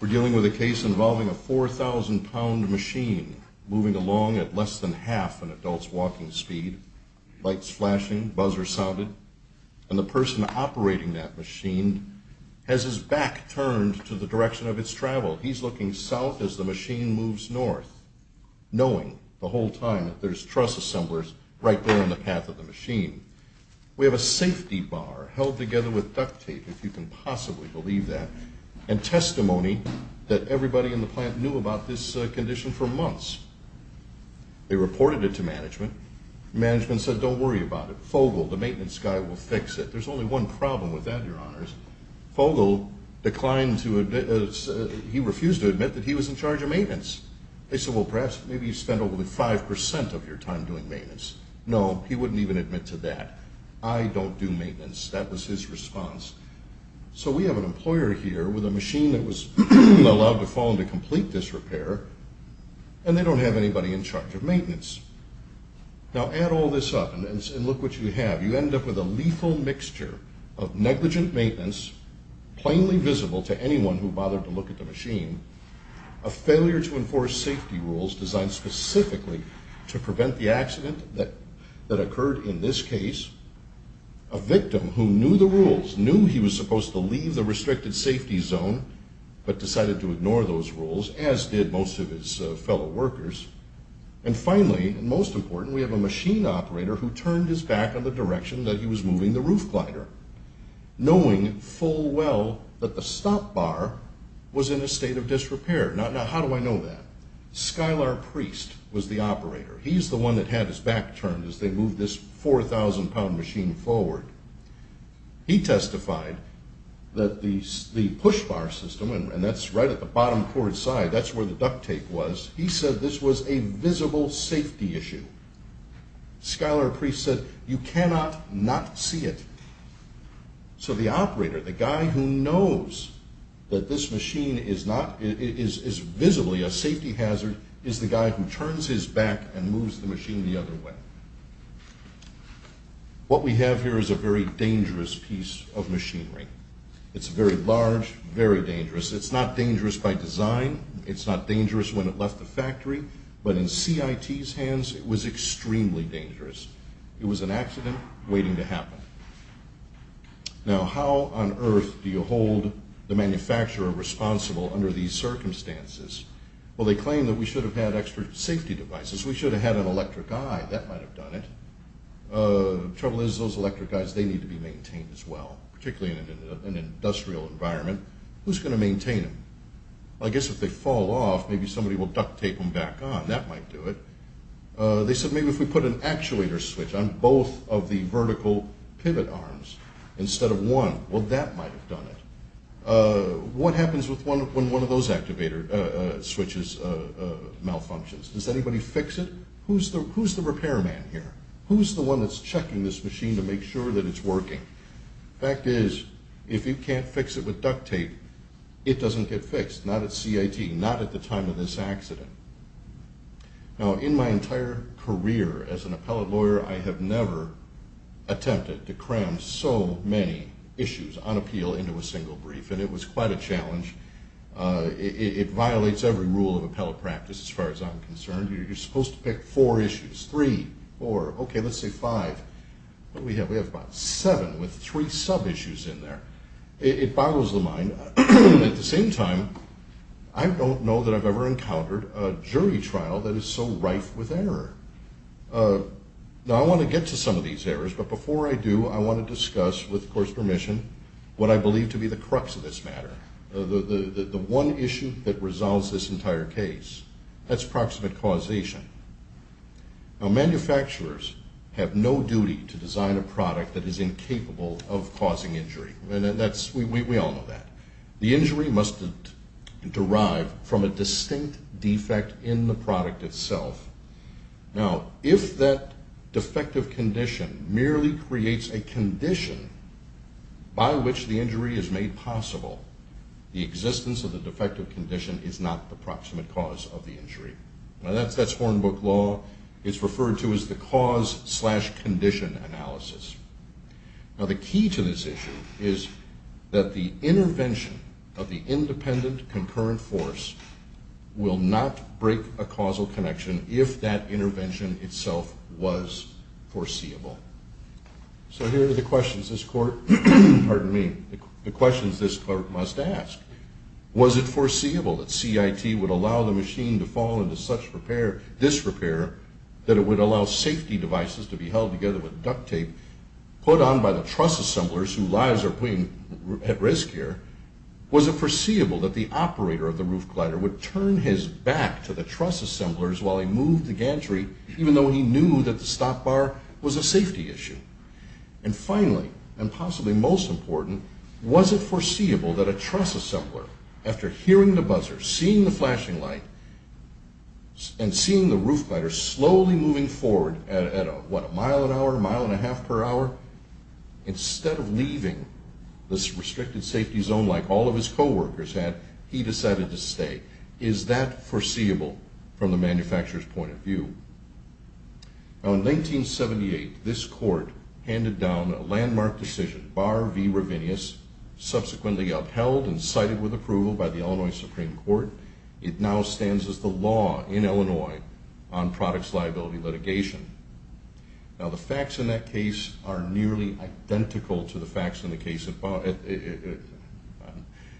We're dealing with a case involving a 4,000-pound machine moving along at less than half an and the person operating that machine has his back turned to the direction of its travel. He's looking south as the machine moves north, knowing the whole time that there's truss assemblers right there on the path of the machine. We have a safety bar held together with duct tape, if you can possibly believe that, and testimony that everybody in the plant knew about this condition for months. They reported it to management. Management said, don't worry about it. Fogel, the maintenance guy, will fix it. There's only one problem with that, Your Honors. Fogel declined to admit, he refused to admit that he was in charge of maintenance. They said, well, perhaps, maybe you spent over 5% of your time doing maintenance. No, he wouldn't even admit to that. I don't do maintenance. That was his response. So we have an employer here with a machine that was allowed to fall into complete disrepair and they don't have anybody in charge of maintenance. Now add all this up and look what you have. You end up with a lethal mixture of negligent maintenance, plainly visible to anyone who bothered to look at the machine, a failure to enforce safety rules designed specifically to prevent the accident that occurred in this case, a victim who knew the rules, knew he was supposed to leave the restricted safety zone, but decided to ignore those rules, as did most of his fellow workers. And finally, and most important, we have a machine operator who turned his back on the direction that he was moving the roof glider, knowing full well that the stop bar was in a state of disrepair. Now how do I know that? Skylar Priest was the operator. He's the one that had his back turned as they moved this 4,000 pound machine forward. He testified that the push bar system, and that's right at the bottom port side, that's where the duct tape was, he said this was a visible safety issue. Skylar Priest said, you cannot not see it. So the operator, the guy who knows that this machine is visibly a safety hazard, is the guy who turns his back and moves the machine the other way. What we have here is a very dangerous piece of machinery. It's very large, very dangerous. It's not dangerous by design, it's not dangerous when it left the factory, but in CIT's hands, it was extremely dangerous. It was an accident waiting to happen. Now how on earth do you hold the manufacturer responsible under these circumstances? Well they claim that we should have had extra safety devices. We should have had an electric eye, that might have done it. Trouble is those electric eyes, they need to be maintained as well, particularly in an industrial environment. Who's going to maintain them? I guess if they fall off, maybe somebody will duct tape them back on, that might do it. They said maybe if we put an actuator switch on both of the vertical pivot arms instead of one, well that might have done it. What happens when one of those switches malfunctions? Does anybody fix it? Who's the repairman here? Who's the one that's checking this machine to make sure that it's working? Fact is, if you can't fix it with duct tape, it doesn't get fixed. Not at CIT, not at the time of this accident. Now in my entire career as an appellate lawyer, I have never attempted to cram so many issues on appeal into a single brief. And it was quite a challenge. It violates every rule of appellate practice as far as I'm concerned. You're supposed to pick four issues, three, four, okay let's say five. What do we have? We have about seven with three sub-issues in there. It boggles the mind. At the same time, I don't know that I've ever encountered a jury trial that is so rife with error. Now I want to get to some of these errors, but before I do, I want to discuss, with court's permission, what I believe to be the crux of this matter. The one issue that resolves this entire case. That's proximate causation. Now manufacturers have no duty to design a product that is incapable of causing injury. We all know that. The injury must derive from a distinct defect in the product itself. Now if that defective condition merely creates a condition by which the injury is made possible, the existence of the defective condition is not the proximate cause of the injury. Now that's Hornbook law. It's referred to as the cause-slash-condition analysis. Now the key to this issue is that the intervention of the independent concurrent force will not break a causal connection if that intervention itself was foreseeable. So here are the questions this court, pardon me, the questions this court must ask. Was it foreseeable that CIT would allow the machine to fall into such repair, this repair, that it would allow safety devices to be held together with duct tape put on by the truss assemblers whose lives are at risk here? Was it foreseeable that the operator of the roof glider would turn his back to the truss assemblers while he moved the gantry, even though he knew that the stop bar was a safety issue? And finally, and possibly most important, was it foreseeable that a truss assembler, after hearing the buzzer, seeing the flashing light, and seeing the roof glider slowly moving forward at a mile an hour, mile and a half per hour, instead of leaving this restricted safety zone like all of his co-workers had, he decided to stay? Is that foreseeable from the manufacturer's point of view? Now in 1978, this court handed down a landmark decision, Bar v. Ravinius, subsequently upheld and cited with approval by the Illinois Supreme Court. It now stands as the law in Illinois on products liability litigation. Now the facts in that case are nearly identical to the facts in the case,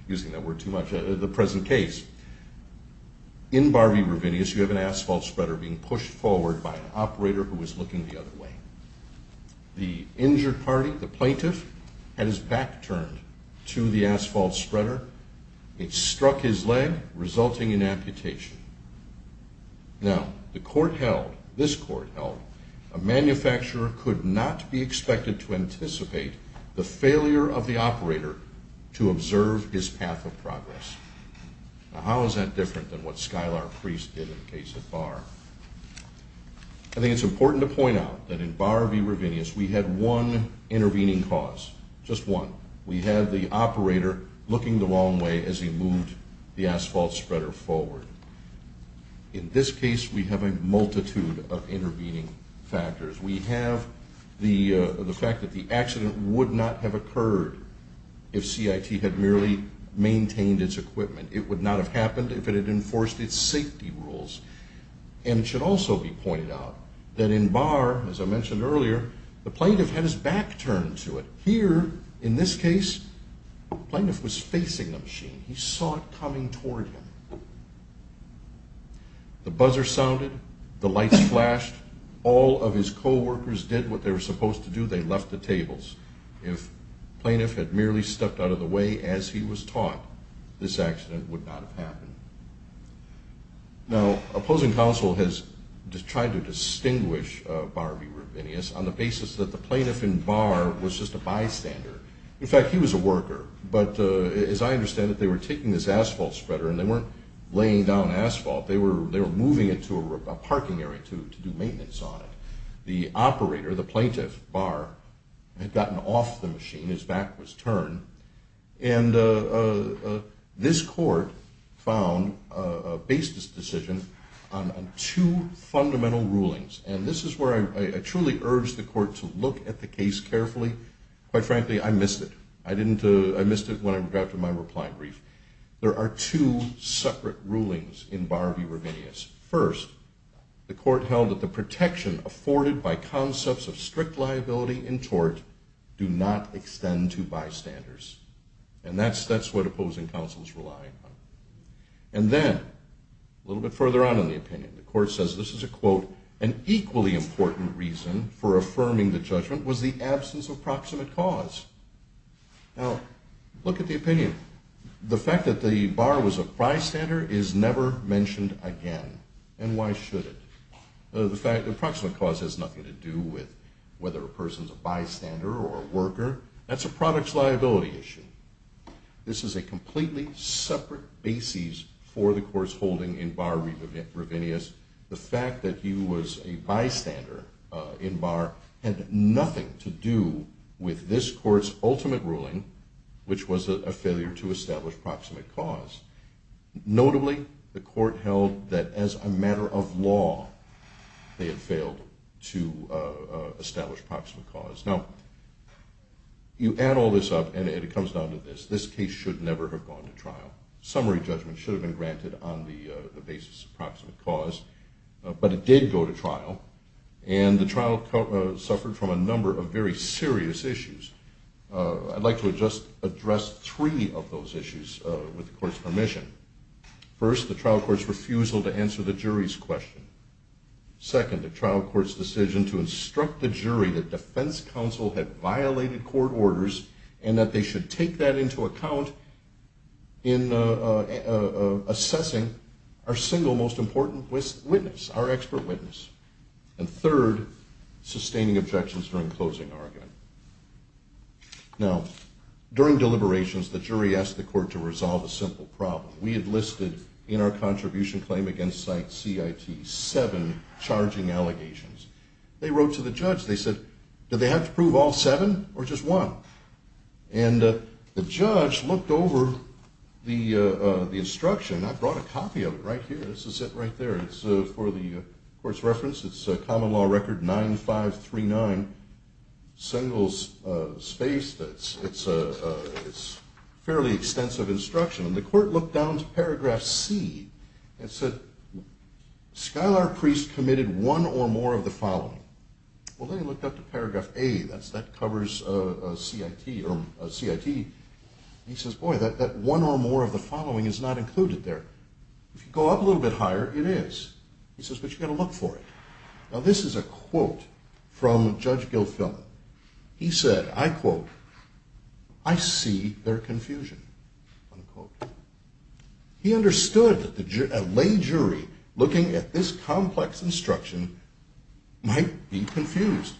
using that word too much, the present case. In Bar v. Ravinius, you have an asphalt spreader being pushed forward by an operator who was looking the other way. The injured party, the plaintiff, had his back turned to the asphalt spreader. It struck his leg, resulting in amputation. Now, the court held, this court held, a manufacturer could not be expected to anticipate the failure of the operator to observe his path of progress. Now how is that different than what Skylar Priest did in the case of Bar? I think it's important to point out that in Bar v. Ravinius, we had one intervening cause, just one. We had the operator looking the wrong way as he moved the asphalt spreader forward. In this case, we have a multitude of intervening factors. We have the fact that the accident would not have occurred if CIT had merely maintained its equipment. It would not have happened if it had enforced its safety rules. And it should also be pointed out that in Bar, as I mentioned earlier, the plaintiff had his back turned to it. Here, in this case, the plaintiff was facing the machine. He saw it coming toward him. The buzzer sounded. The lights flashed. All of his co-workers did what they were supposed to do. They left the tables. If the plaintiff had merely stepped out of the way as he was taught, this accident would not have happened. Now, opposing counsel has tried to distinguish Bar v. Ravinius on the basis that the plaintiff in Bar was just a bystander. In fact, he was a worker. But as I understand it, they were taking this asphalt spreader, and they weren't laying down asphalt. They were moving it to a parking area to do maintenance on it. The operator, the plaintiff, Bar, had gotten off the machine. His back was turned. And this court found a basis decision on two fundamental rulings. And this is where I truly urge the court to look at the case carefully. Quite frankly, I missed it. I missed it when I read my reply brief. There are two separate rulings in Bar v. Ravinius. First, the court held that the protection afforded by concepts of strict liability in tort do not extend to bystanders. And that's what opposing counsel is relying on. And then, a little bit further on in the opinion, the court says, this is a quote, An equally important reason for affirming the judgment was the absence of proximate cause. Now, look at the opinion. The fact that the Bar was a bystander is never mentioned again. And why should it? The fact that proximate cause has nothing to do with whether a person's a bystander or a worker, that's a product's liability issue. This is a completely separate basis for the court's holding in Bar v. Ravinius. The fact that he was a bystander in Bar had nothing to do with this court's ultimate ruling, which was a failure to establish proximate cause. Notably, the court held that as a matter of law, they had failed to establish proximate cause. Now, you add all this up, and it comes down to this. This case should never have gone to trial. Summary judgment should have been granted on the basis of proximate cause. But it did go to trial, and the trial suffered from a number of very serious issues. I'd like to just address three of those issues with the court's permission. First, the trial court's refusal to answer the jury's question. Second, the trial court's decision to instruct the jury that defense counsel had violated court orders and that they should take that into account in assessing our single most important witness, our expert witness. And third, sustaining objections during closing argument. Now, during deliberations, the jury asked the court to resolve a simple problem. We had listed in our contribution claim against CIT seven charging allegations. They wrote to the judge. They said, did they have to prove all seven or just one? And the judge looked over the instruction. I brought a copy of it right here. This is it right there. It's for the court's reference. It's a common law record 9539, singles space. It's a fairly extensive instruction. And the court looked down to paragraph C and said, Skylar Priest committed one or more of the following. Well, then he looked up to paragraph A. That covers CIT. He says, boy, that one or more of the following is not included there. If you go up a little bit higher, it is. He says, but you've got to look for it. Now, this is a quote from Judge Gilfillan. He said, I quote, I see their confusion, unquote. He understood that a lay jury looking at this complex instruction might be confused.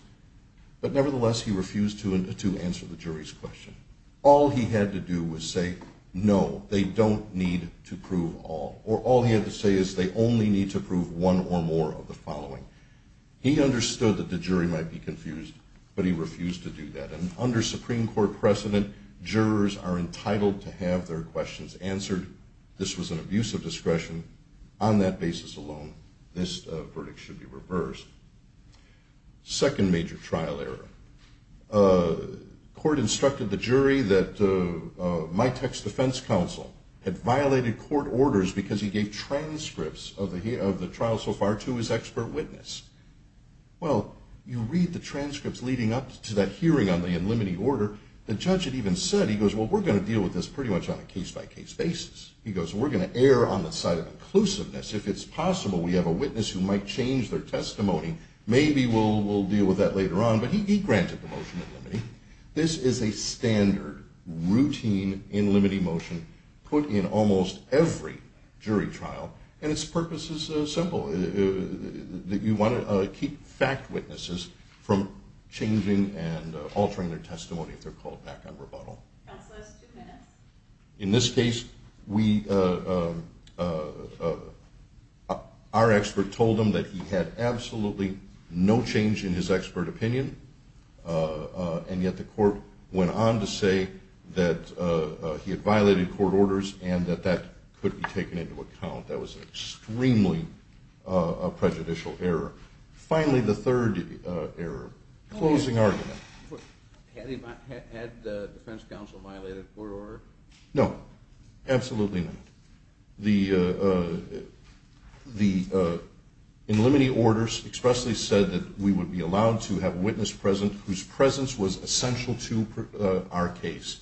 But nevertheless, he refused to answer the jury's question. All he had to do was say, no, they don't need to prove all. Or all he had to say is they only need to prove one or more of the following. He understood that the jury might be confused, but he refused to do that. And under Supreme Court precedent, jurors are entitled to have their questions answered. This was an abuse of discretion. On that basis alone, this verdict should be reversed. Second major trial error. Court instructed the jury that my text defense counsel had violated court orders because he gave transcripts of the trial so far to his expert witness. Well, you read the transcripts leading up to that hearing on the unlimiting order. The judge had even said, he goes, well, we're going to deal with this pretty much on a case-by-case basis. He goes, we're going to err on the side of inclusiveness. If it's possible, we have a witness who might change their testimony. Maybe we'll deal with that later on. But he granted the motion in limine. This is a standard, routine, in limine motion put in almost every jury trial. And its purpose is simple. You want to keep fact witnesses from changing and altering their testimony if they're called back on rebuttal. Counsel has two minutes. In this case, our expert told him that he had absolutely no change in his expert opinion. And yet the court went on to say that he had violated court orders and that that could be taken into account. That was extremely a prejudicial error. Finally, the third error. Closing argument. Had the defense counsel violated court order? No. Absolutely not. The in limine orders expressly said that we would be allowed to have a witness present whose presence was essential to our case.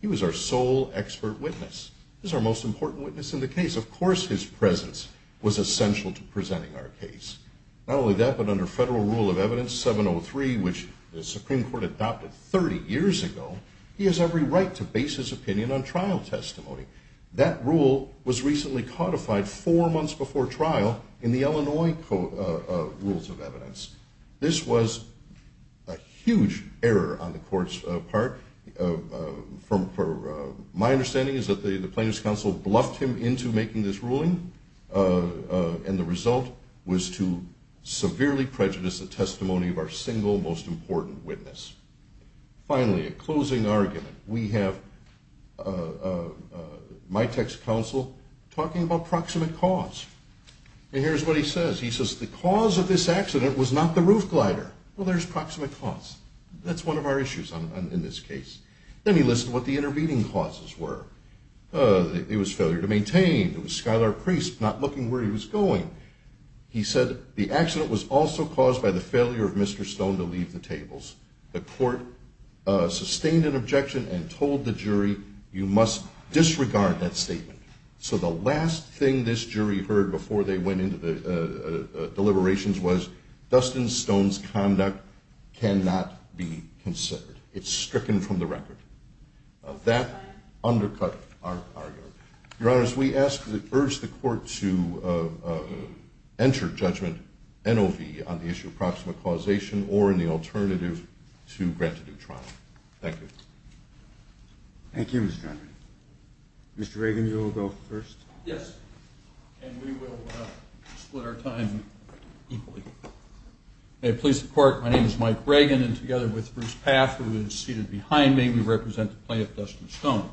He was our sole expert witness. He was our most important witness in the case. Of course his presence was essential to presenting our case. Not only that, but under Federal Rule of Evidence 703, which the Supreme Court adopted 30 years ago, he has every right to base his opinion on trial testimony. That rule was recently codified four months before trial in the Illinois Rules of Evidence. This was a huge error on the court's part. My understanding is that the plaintiff's counsel bluffed him into making this ruling. And the result was to severely prejudice the testimony of our single most important witness. Finally, a closing argument. We have my text counsel talking about proximate cause. And here's what he says. He says the cause of this accident was not the roof glider. Well, there's proximate cause. That's one of our issues in this case. It was failure to maintain. It was Skylar Priest not looking where he was going. He said the accident was also caused by the failure of Mr. Stone to leave the tables. The court sustained an objection and told the jury you must disregard that statement. So the last thing this jury heard before they went into the deliberations was Dustin Stone's conduct cannot be considered. It's stricken from the record. That undercut our argument. Your Honor, we urge the court to enter judgment NOV on the issue of proximate causation or in the alternative to grant a new trial. Thank you. Thank you, Mr. Henry. Mr. Reagan, you will go first. Yes. And we will split our time equally. May it please the court, my name is Mike Reagan. And together with Bruce Path, who is seated behind me, we represent the plaintiff, Dustin Stone.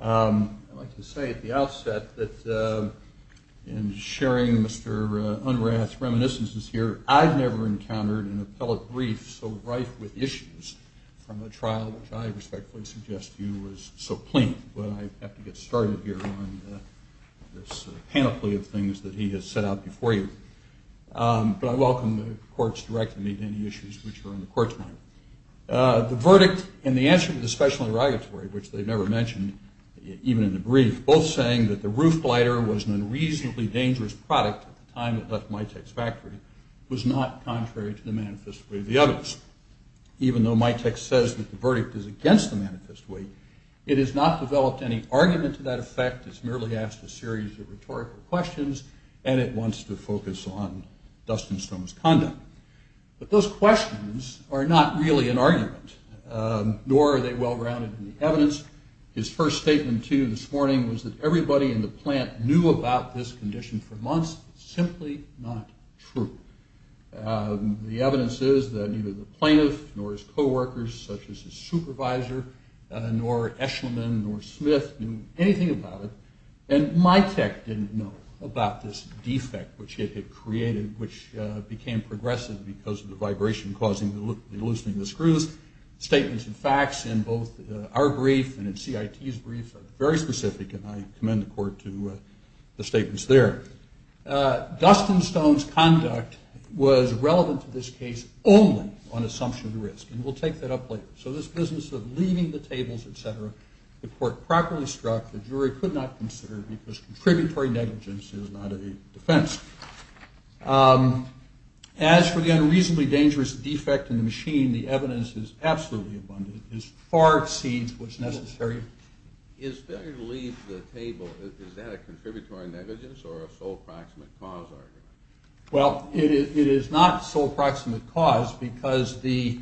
I'd like to say at the outset that in sharing Mr. Unrath's reminiscences here, I've never encountered an appellate brief so rife with issues from a trial which I respectfully suggest to you was so plain. But I have to get started here on this sort of panoply of things that he has set out before you. But I welcome the court's directing me to any issues which are on the court's mind. The verdict in the answer to the special interrogatory, which they never mentioned, even in the brief, both saying that the roof glider was an unreasonably dangerous product at the time it left Mitek's factory, was not contrary to the manifest way of the evidence. Even though Mitek says that the verdict is against the manifest way, it has not developed any argument to that effect. It's merely asked a series of rhetorical questions, and it wants to focus on Dustin Stone's conduct. But those questions are not really an argument, nor are they well-rounded in the evidence. His first statement to you this morning was that everybody in the plant knew about this condition for months. It's simply not true. The evidence is that neither the plaintiff nor his co-workers, such as his supervisor, nor Eshleman, nor Smith, knew anything about it. And Mitek didn't know about this defect which it had created, which became progressive because of the vibration causing the loosening of the screws. Statements and facts in both our brief and in CIT's brief are very specific, and I commend the court to the statements there. Dustin Stone's conduct was relevant to this case only on assumption of risk, and we'll take that up later. So this business of leaving the tables, et cetera, the court properly struck. The jury could not consider it because contributory negligence is not a defense. As for the unreasonably dangerous defect in the machine, the evidence is absolutely abundant. It far exceeds what's necessary. Is failure to leave the table, is that a contributory negligence or a sole proximate cause argument? Well, it is not sole proximate cause because the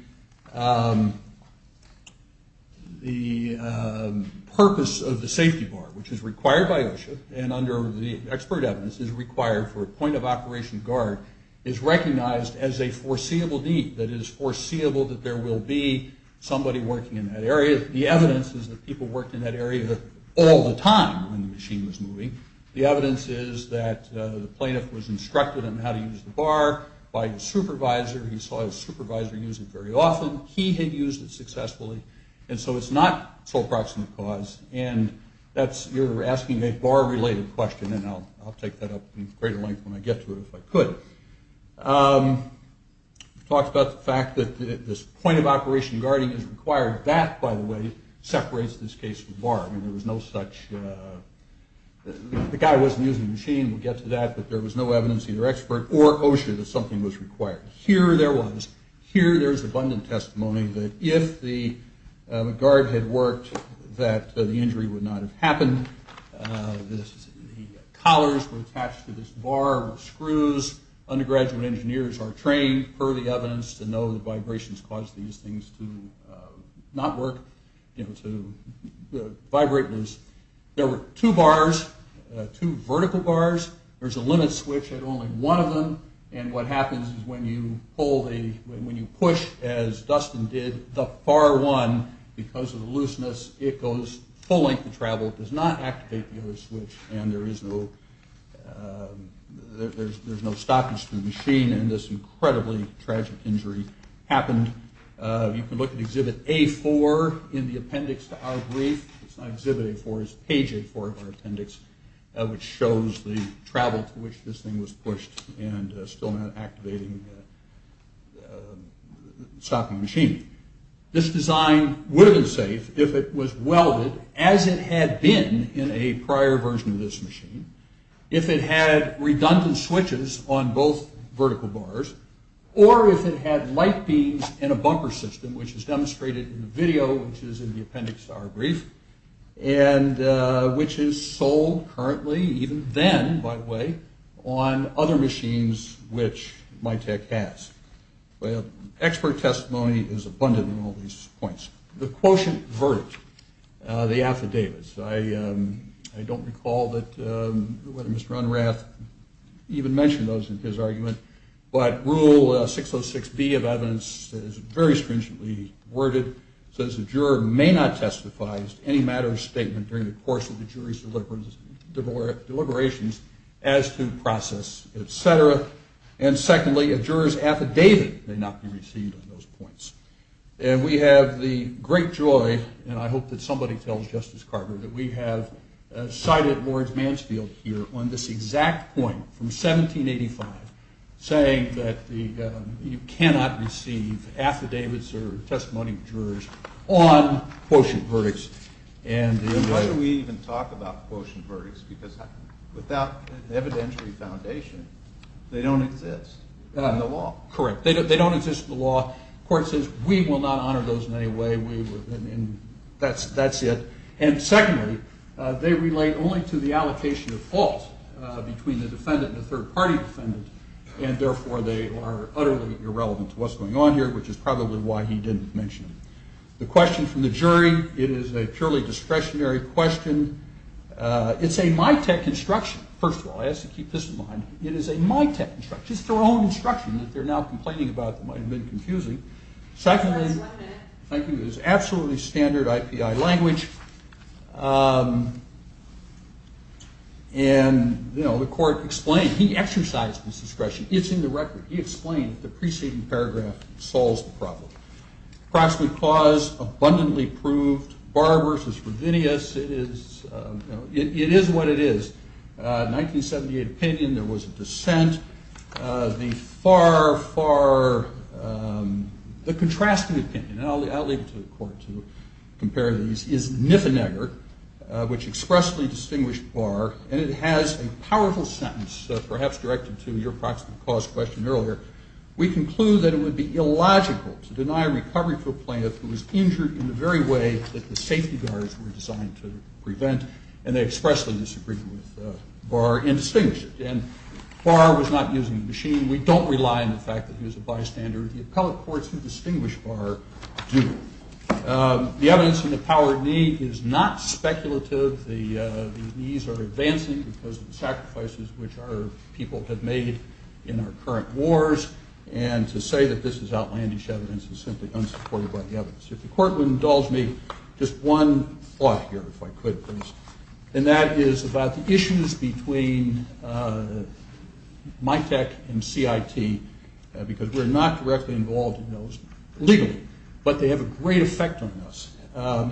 purpose of the safety bar, which is required by OSHA and under the expert evidence is required for a point of operation guard, is recognized as a foreseeable deed, that it is foreseeable that there will be somebody working in that area. The evidence is that people worked in that area all the time when the machine was moving. The evidence is that the plaintiff was instructed on how to use the bar by his supervisor. He saw his supervisor use it very often. He had used it successfully, and so it's not sole proximate cause. And you're asking a bar-related question, and I'll take that up in greater length when I get to it if I could. It talks about the fact that this point of operation guarding is required. That, by the way, separates this case from bar. I mean, there was no such – the guy wasn't using the machine. We'll get to that. But there was no evidence, either expert or OSHA, that something was required. Here there was. Here there is abundant testimony that if the guard had worked, that the injury would not have happened. The collars were attached to this bar with screws. Undergraduate engineers are trained, per the evidence, to know that vibrations cause these things to not work, you know, to vibrate. There were two bars, two vertical bars. There's a limit switch at only one of them, and what happens is when you pull the – when you push, as Dustin did, the far one, because of the looseness, it goes full length of travel. It does not activate the other switch, and there is no – there's no stoppage to the machine, and this incredibly tragic injury happened. You can look at Exhibit A-4 in the appendix to our brief. It's not Exhibit A-4. It's Page A-4 of our appendix, which shows the travel to which this thing was pushed and still not activating the stopping machine. This design would have been safe if it was welded as it had been in a prior version of this machine, if it had redundant switches on both vertical bars, or if it had light beams in a bumper system, which is demonstrated in the video, which is in the appendix to our brief, and which is sold currently, even then, by the way, on other machines which MyTech has. Well, expert testimony is abundant in all these points. The quotient verdict, the affidavits. I don't recall that Mr. Unrath even mentioned those in his argument, but Rule 606B of evidence is very stringently worded. It says a juror may not testify as to any matter of statement during the course of the jury's deliberations as to process, et cetera. And secondly, a juror's affidavit may not be received on those points. And we have the great joy, and I hope that somebody tells Justice Carter, that we have cited Lawrence Mansfield here on this exact point from 1785, saying that you cannot receive affidavits or testimony of jurors on quotient verdicts. Why do we even talk about quotient verdicts? Because without an evidentiary foundation, they don't exist in the law. Correct. They don't exist in the law. The court says, we will not honor those in any way. That's it. And secondly, they relate only to the allocation of fault between the defendant and the third-party defendant, and therefore they are utterly irrelevant to what's going on here, which is probably why he didn't mention them. The question from the jury, it is a purely discretionary question. It's a MITEC instruction. First of all, I ask you to keep this in mind. It is a MITEC instruction. It's their own instruction that they're now complaining about that might have been confusing. Secondly, thank you. It is absolutely standard IPI language. And, you know, the court explained. He exercised this discretion. It's in the record. He explained the preceding paragraph solves the problem. Approximate cause, abundantly proved. Barr versus Ravinius. It is what it is. 1978 opinion. There was a dissent. The far, far ‑‑ the contrasting opinion, and I'll leave it to the court to compare these, is Niffenegger, which expressly distinguished Barr, and it has a powerful sentence perhaps directed to your approximate cause question earlier. We conclude that it would be illogical to deny recovery for a plaintiff who was injured in the very way that the safety guards were designed to prevent, and they expressly disagreed with Barr and distinguished it. And Barr was not using the machine. We don't rely on the fact that he was a bystander. The appellate courts who distinguish Barr do. The evidence in the power of knee is not speculative. The knees are advancing because of the sacrifices which our people have made in our current wars, and to say that this is outlandish evidence is simply unsupported by the evidence. If the court would indulge me, just one thought here, if I could, please, and that is about the issues between MITEC and CIT, because we're not directly involved in those legally, but they have a great effect on us.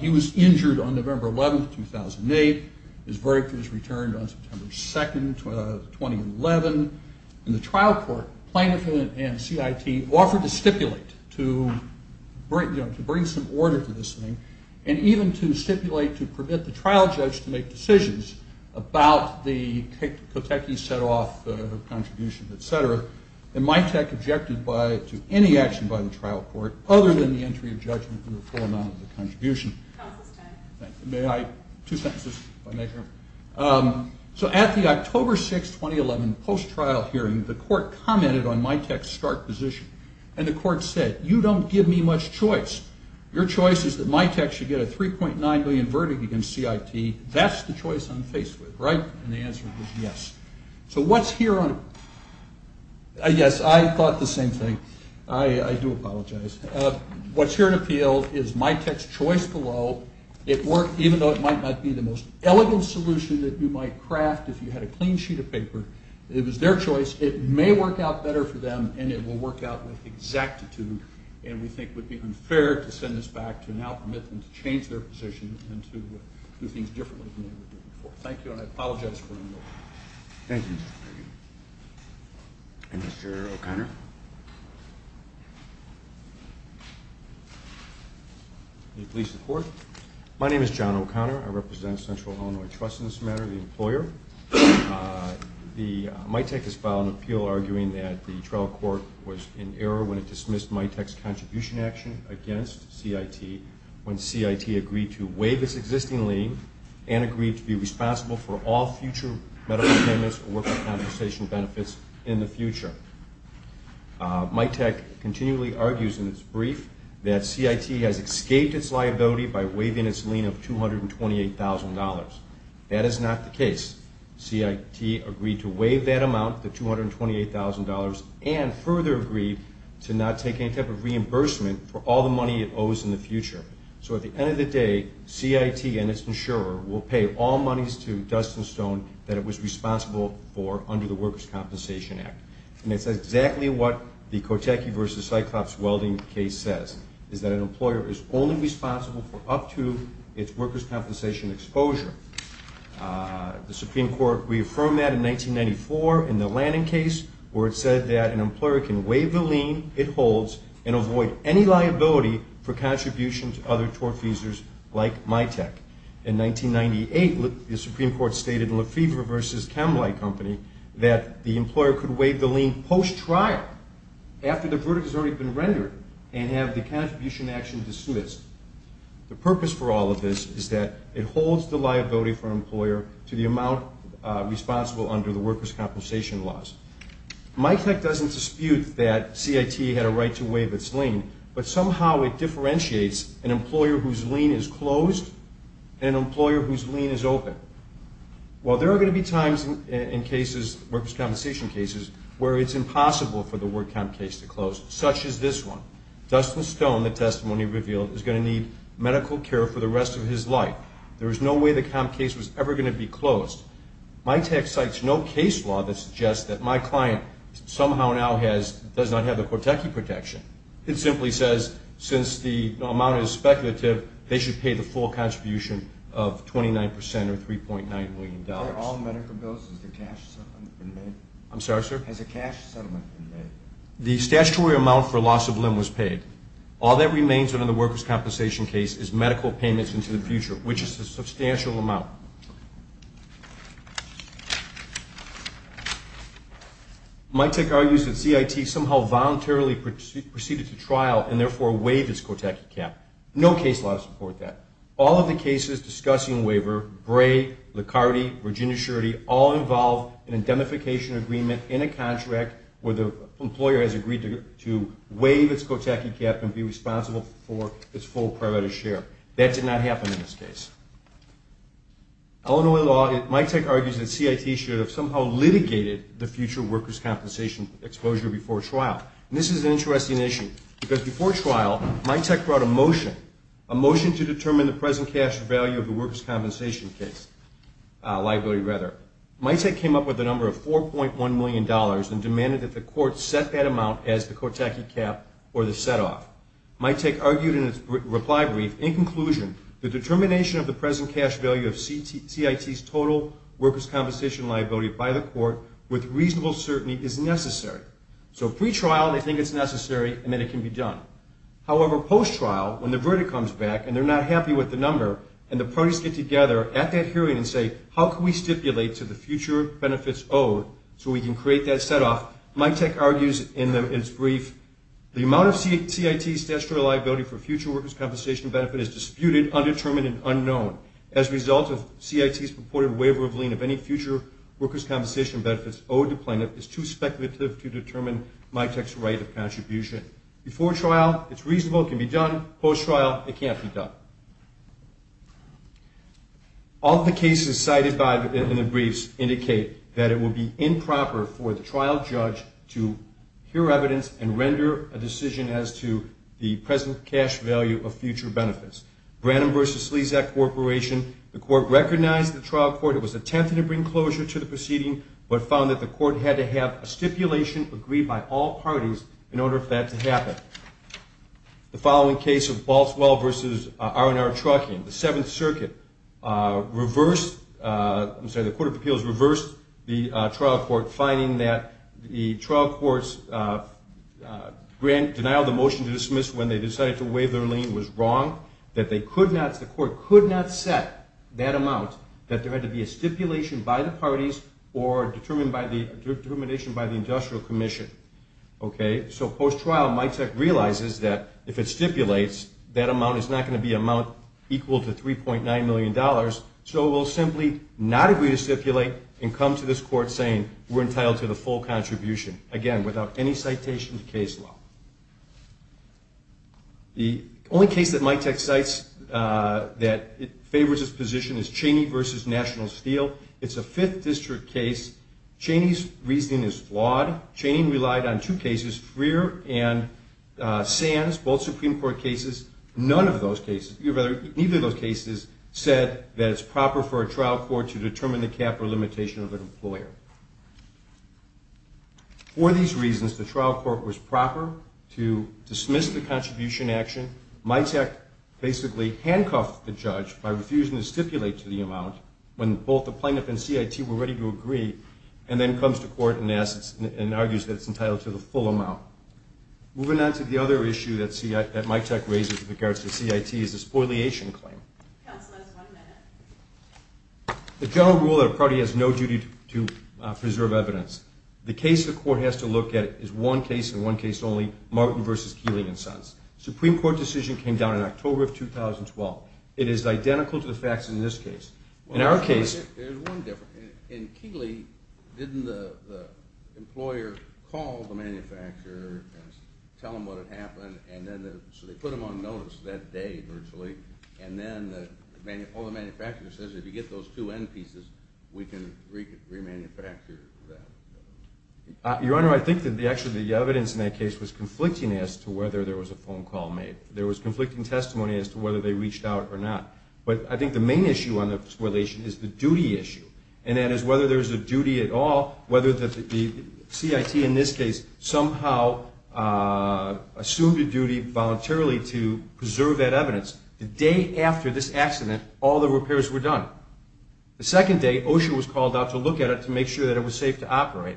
He was injured on November 11th, 2008. His verdict was returned on September 2nd, 2011. In the trial court, plaintiff and CIT offered to stipulate to bring some order to this thing and even to stipulate to permit the trial judge to make decisions about the Kotechi set-off contribution, et cetera, and MITEC objected to any action by the trial court other than the entry of judgment and the full amount of the contribution. Two sentences, if I may, Your Honor. So at the October 6, 2011, post-trial hearing, the court commented on MITEC's stark position, and the court said, you don't give me much choice. Your choice is that MITEC should get a 3.9 million verdict against CIT. That's the choice I'm faced with, right? And the answer was yes. So what's here on... Yes, I thought the same thing. I do apologize. What's here in appeal is MITEC's choice below. It worked, even though it might not be the most elegant solution that you might craft if you had a clean sheet of paper. It was their choice. It may work out better for them, and it will work out with exactitude, and we think it would be unfair to send this back to now permit them to change their position and to do things differently than they were doing before. Thank you, and I apologize for being late. Thank you. And Mr. O'Connor? May it please the Court? My name is John O'Connor. I represent Central Illinois Trust in this matter, the employer. MITEC has filed an appeal arguing that the trial court was in error when it dismissed MITEC's contribution action against CIT when CIT agreed to waive its existing lien and agreed to be responsible for all future medical payments or work compensation benefits in the future. MITEC continually argues in its brief that CIT has escaped its liability by waiving its lien of $228,000. That is not the case. CIT agreed to waive that amount, the $228,000, and further agreed to not take any type of reimbursement for all the money it owes in the future. So at the end of the day, CIT and its insurer will pay all monies to Dustin Stone that it was responsible for under the Workers' Compensation Act. And it's exactly what the Kotecki v. Cyclops welding case says, is that an employer is only responsible for up to its workers' compensation exposure. The Supreme Court reaffirmed that in 1994 in the Lanning case, and avoid any liability for contributions to other TOR feesers like MITEC. In 1998, the Supreme Court stated in Lefever v. Camelot Company that the employer could waive the lien post-trial, after the verdict has already been rendered, and have the contribution action dismissed. The purpose for all of this is that it holds the liability for an employer to the amount responsible under the workers' compensation laws. MITEC doesn't dispute that CIT had a right to waive its lien, but somehow it differentiates an employer whose lien is closed and an employer whose lien is open. While there are going to be times in cases, workers' compensation cases, where it's impossible for the work comp case to close, such as this one. Dustin Stone, the testimony revealed, is going to need medical care for the rest of his life. MITEC cites no case law that suggests that my client somehow now has, does not have the Cortechi protection. It simply says, since the amount is speculative, they should pay the full contribution of 29% or $3.9 million. I'm sorry, sir? The statutory amount for loss of limb was paid. All that remains under the workers' compensation case is medical payments into the future, which is a substantial amount. MITEC argues that CIT somehow voluntarily proceeded to trial and therefore waived its Cortechi cap. No case law to support that. All of the cases discussing waiver, Bray, Licardi, Virginia Scherti, all involve an indemnification agreement in a contract where the employer has agreed to waive its Cortechi cap and be responsible for its full priority share. That did not happen in this case. Illinois law, MITEC argues that CIT should have somehow litigated the future workers' compensation exposure before trial. And this is an interesting issue, because before trial, MITEC brought a motion, a motion to determine the present cash value of the workers' compensation case, liability rather. MITEC came up with a number of $4.1 million and demanded that the court set that amount as the Cortechi cap or the set-off. MITEC argued in its reply brief, in conclusion, the determination of the present cash value of CIT's total workers' compensation liability by the court with reasonable certainty is necessary. So pre-trial, they think it's necessary, and then it can be done. However, post-trial, when the verdict comes back and they're not happy with the number, and the parties get together at that hearing and say, how can we stipulate to the future benefits owed so we can create that set-off, MITEC argues in its brief, the amount of CIT statutory liability for future workers' compensation benefit is disputed, undetermined, and unknown. As a result, if CIT's purported waiver of lien of any future workers' compensation benefits owed to plaintiff is too speculative to determine MITEC's right of contribution. Before trial, it's reasonable, it can be done. Post-trial, it can't be done. All of the cases cited in the briefs indicate that it will be improper for the trial judge to hear evidence and render a decision as to the present cash value of future benefits. Branham v. Slezak Corporation. The court recognized the trial court. It was attempting to bring closure to the proceeding but found that the court had to have a stipulation agreed by all parties in order for that to happen. The following case of Baltswell v. R&R Trucking. The Court of Appeals reversed the trial court, finding that the trial court's denial of the motion to dismiss when they decided to waive their lien was wrong, that the court could not set that amount, that there had to be a stipulation by the parties or determination by the industrial commission. So post-trial, MITEC realizes that if it stipulates, that amount is not going to be equal to $3.9 million, so it will simply not agree to stipulate and come to this court saying we're entitled to the full contribution, again, without any citation to case law. The only case that MITEC cites that favors this position is Cheney v. National Steel. It's a Fifth District case. Cheney's reasoning is flawed. Cheney relied on two cases, Freer and Sands, both Supreme Court cases. None of those cases, or rather, neither of those cases, said that it's proper for a trial court to determine the cap or limitation of an employer. For these reasons, the trial court was proper to dismiss the contribution action. MITEC basically handcuffed the judge by refusing to stipulate to the amount when both the plaintiff and CIT were ready to agree and then comes to court and argues that it's entitled to the full amount. Moving on to the other issue that MITEC raises with regards to CIT is the spoiliation claim. Counsel has one minute. The general rule that a party has no duty to preserve evidence. The case the court has to look at is one case and one case only, Martin v. Keeley and Sands. Supreme Court decision came down in October of 2012. It is identical to the facts in this case. In our case... There's one difference. In Keeley, didn't the employer call the manufacturer and tell them what had happened, so they put them on notice that day, virtually, and then the manufacturer says, if you get those two end pieces, we can remanufacture that? Your Honor, I think that actually the evidence in that case was conflicting as to whether there was a phone call made. There was conflicting testimony as to whether they reached out or not. But I think the main issue on the spoilation is the duty issue. And that is whether there is a duty at all, whether the CIT in this case somehow assumed a duty voluntarily to preserve that evidence the day after this accident all the repairs were done. The second day, OSHA was called out to look at it to make sure that it was safe to operate.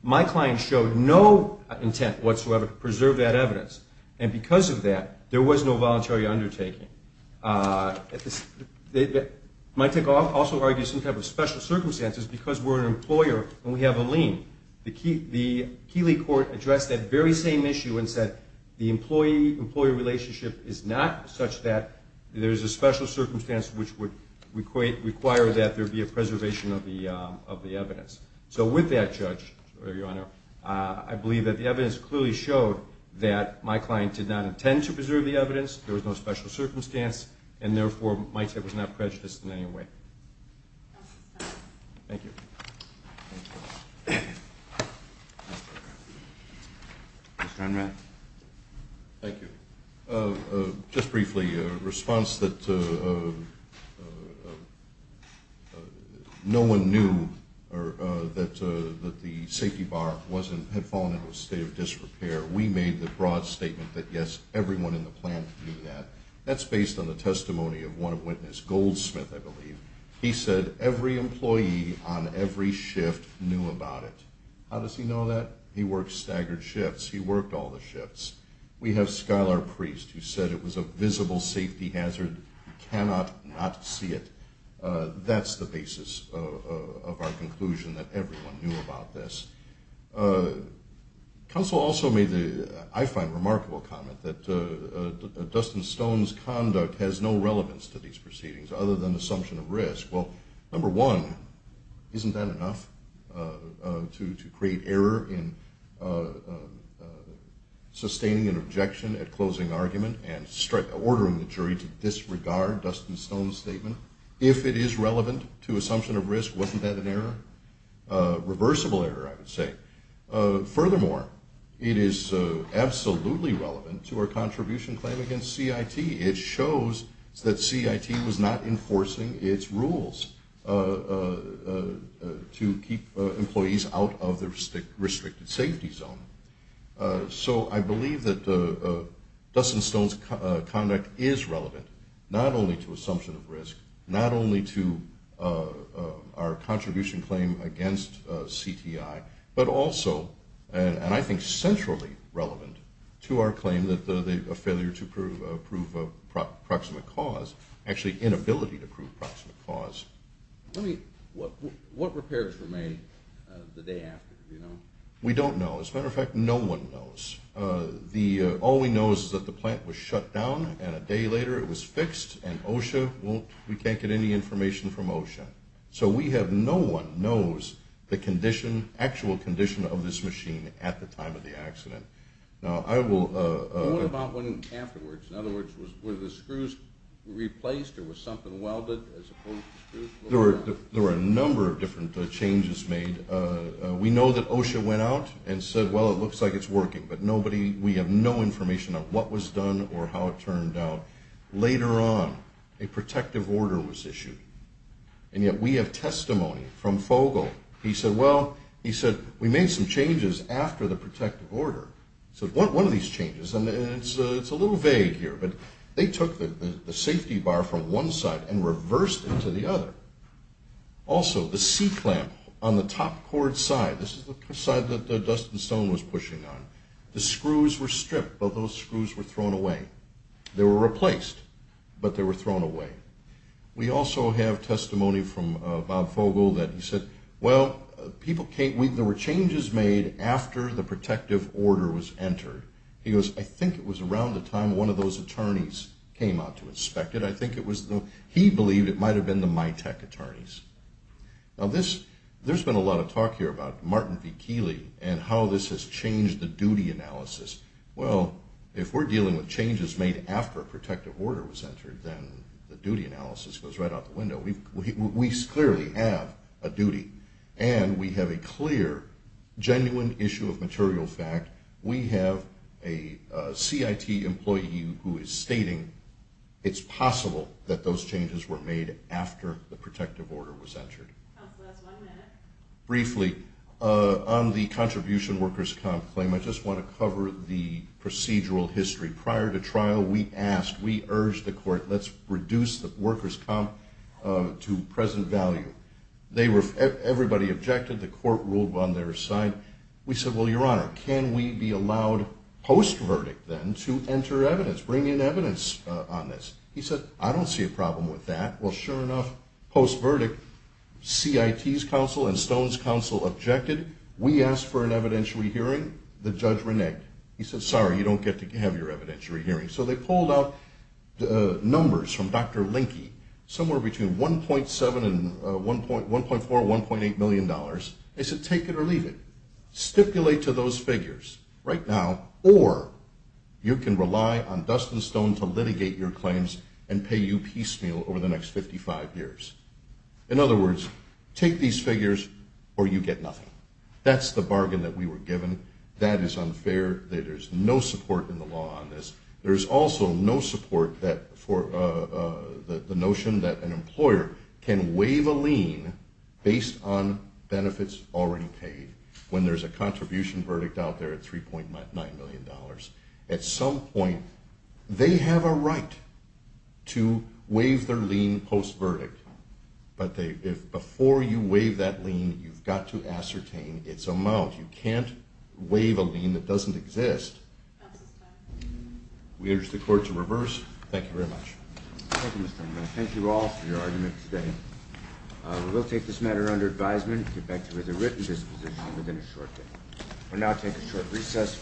My client showed no intent whatsoever to preserve that evidence. And because of that, there was no voluntary undertaking. My take also argues some type of special circumstances because we're an employer and we have a lien. The Keeley court addressed that very same issue and said the employee-employee relationship is not such that there is a special circumstance which would require that there be a preservation of the evidence. So with that, Judge, Your Honor, I believe that the evidence clearly showed that my client did not intend to preserve the evidence, there was no special circumstance, and therefore my take was not prejudiced in any way. Thank you. Mr. Unman. Thank you. Just briefly, a response that no one knew that the safety bar had fallen into a state of disrepair. We made the broad statement that, yes, everyone in the plant knew that. That's based on the testimony of one witness, Goldsmith, I believe. He said every employee on every shift knew about it. How does he know that? He worked staggered shifts. He worked all the shifts. We have Skylar Priest, who said it was a visible safety hazard. He cannot not see it. That's the basis of our conclusion, that everyone knew about this. Counsel also made the, I find, remarkable comment that Dustin Stone's conduct has no relevance to these proceedings other than assumption of risk. Well, number one, isn't that enough to create error in sustaining an objection at closing argument and ordering the jury to disregard Dustin Stone's statement? If it is relevant to assumption of risk, wasn't that an error? Reversible error, I would say. Furthermore, it is absolutely relevant to our contribution claim against CIT. It shows that CIT was not enforcing its rules to keep employees out of the restricted safety zone. So I believe that Dustin Stone's conduct is relevant not only to assumption of risk, not only to our contribution claim against CTI, but also, and I think centrally relevant, to our claim of failure to prove proximate cause, actually inability to prove proximate cause. What repairs were made the day after? Do you know? We don't know. As a matter of fact, no one knows. All we know is that the plant was shut down, and a day later it was fixed, and OSHA won't, we can't get any information from OSHA. So we have, no one knows the condition, actual condition of this machine at the time of the accident. Now, I will... What about afterwards? In other words, were the screws replaced or was something welded as opposed to screws? There were a number of different changes made. We know that OSHA went out and said, well, it looks like it's working, but nobody, we have no information of what was done or how it turned out. Later on, a protective order was issued, and yet we have testimony from Fogle. He said, well, he said, we made some changes after the protective order. He said, one of these changes, and it's a little vague here, but they took the safety bar from one side and reversed it to the other. Also, the C clamp on the top cord side, this is the side that Dustin Stone was pushing on, the screws were stripped, but those screws were thrown away. They were replaced, but they were thrown away. We also have testimony from Bob Fogle that he said, well, people can't, there were changes made after the protective order was entered. He goes, I think it was around the time one of those attorneys came out to inspect it. I think it was, he believed it might have been the MITAC attorneys. Now this, there's been a lot of talk here about Martin V. Keeley and how this has changed the duty analysis. Well, if we're dealing with changes made after a protective order was entered, then the duty analysis goes right out the window. We clearly have a duty, and we have a clear, genuine issue of material fact. We have a CIT employee who is stating it's possible that those changes were made after the protective order was entered. Briefly, on the contribution workers' comp claim, I just want to cover the procedural history. Prior to trial, we asked, we urged the court, let's reduce the workers' comp to present value. Everybody objected, the court ruled on their side. We said, well, your honor, can we be allowed post-verdict then to enter evidence, bring in evidence on this? He said, I don't see a problem with that. Well, sure enough, post-verdict, CIT's counsel and Stone's counsel objected. We asked for an evidentiary hearing. The judge reneged. He said, sorry, you don't get to have your evidentiary hearing. So they pulled out numbers from Dr. Linke, somewhere between $1.7 and $1.4, $1.8 million. They said, take it or leave it. Stipulate to those figures right now, or you can rely on Dustin Stone to litigate your claims and pay you piecemeal over the next 55 years. In other words, take these figures or you get nothing. That's the bargain that we were given. That is unfair. There's no support in the law on this. There's also no support for the notion that an employer can waive a lien based on benefits already paid, when there's a contribution verdict out there at $3.9 million. At some point, they have a right to waive their lien post-verdict. But before you waive that lien, you've got to ascertain its amount. You can't waive a lien that doesn't exist. We urge the Court to reverse. Thank you very much. Thank you, Mr. Chairman. I thank you all for your argument today. We will take this matter under advisement and get back to you with a written disposition within a short time. We'll now take a short recess.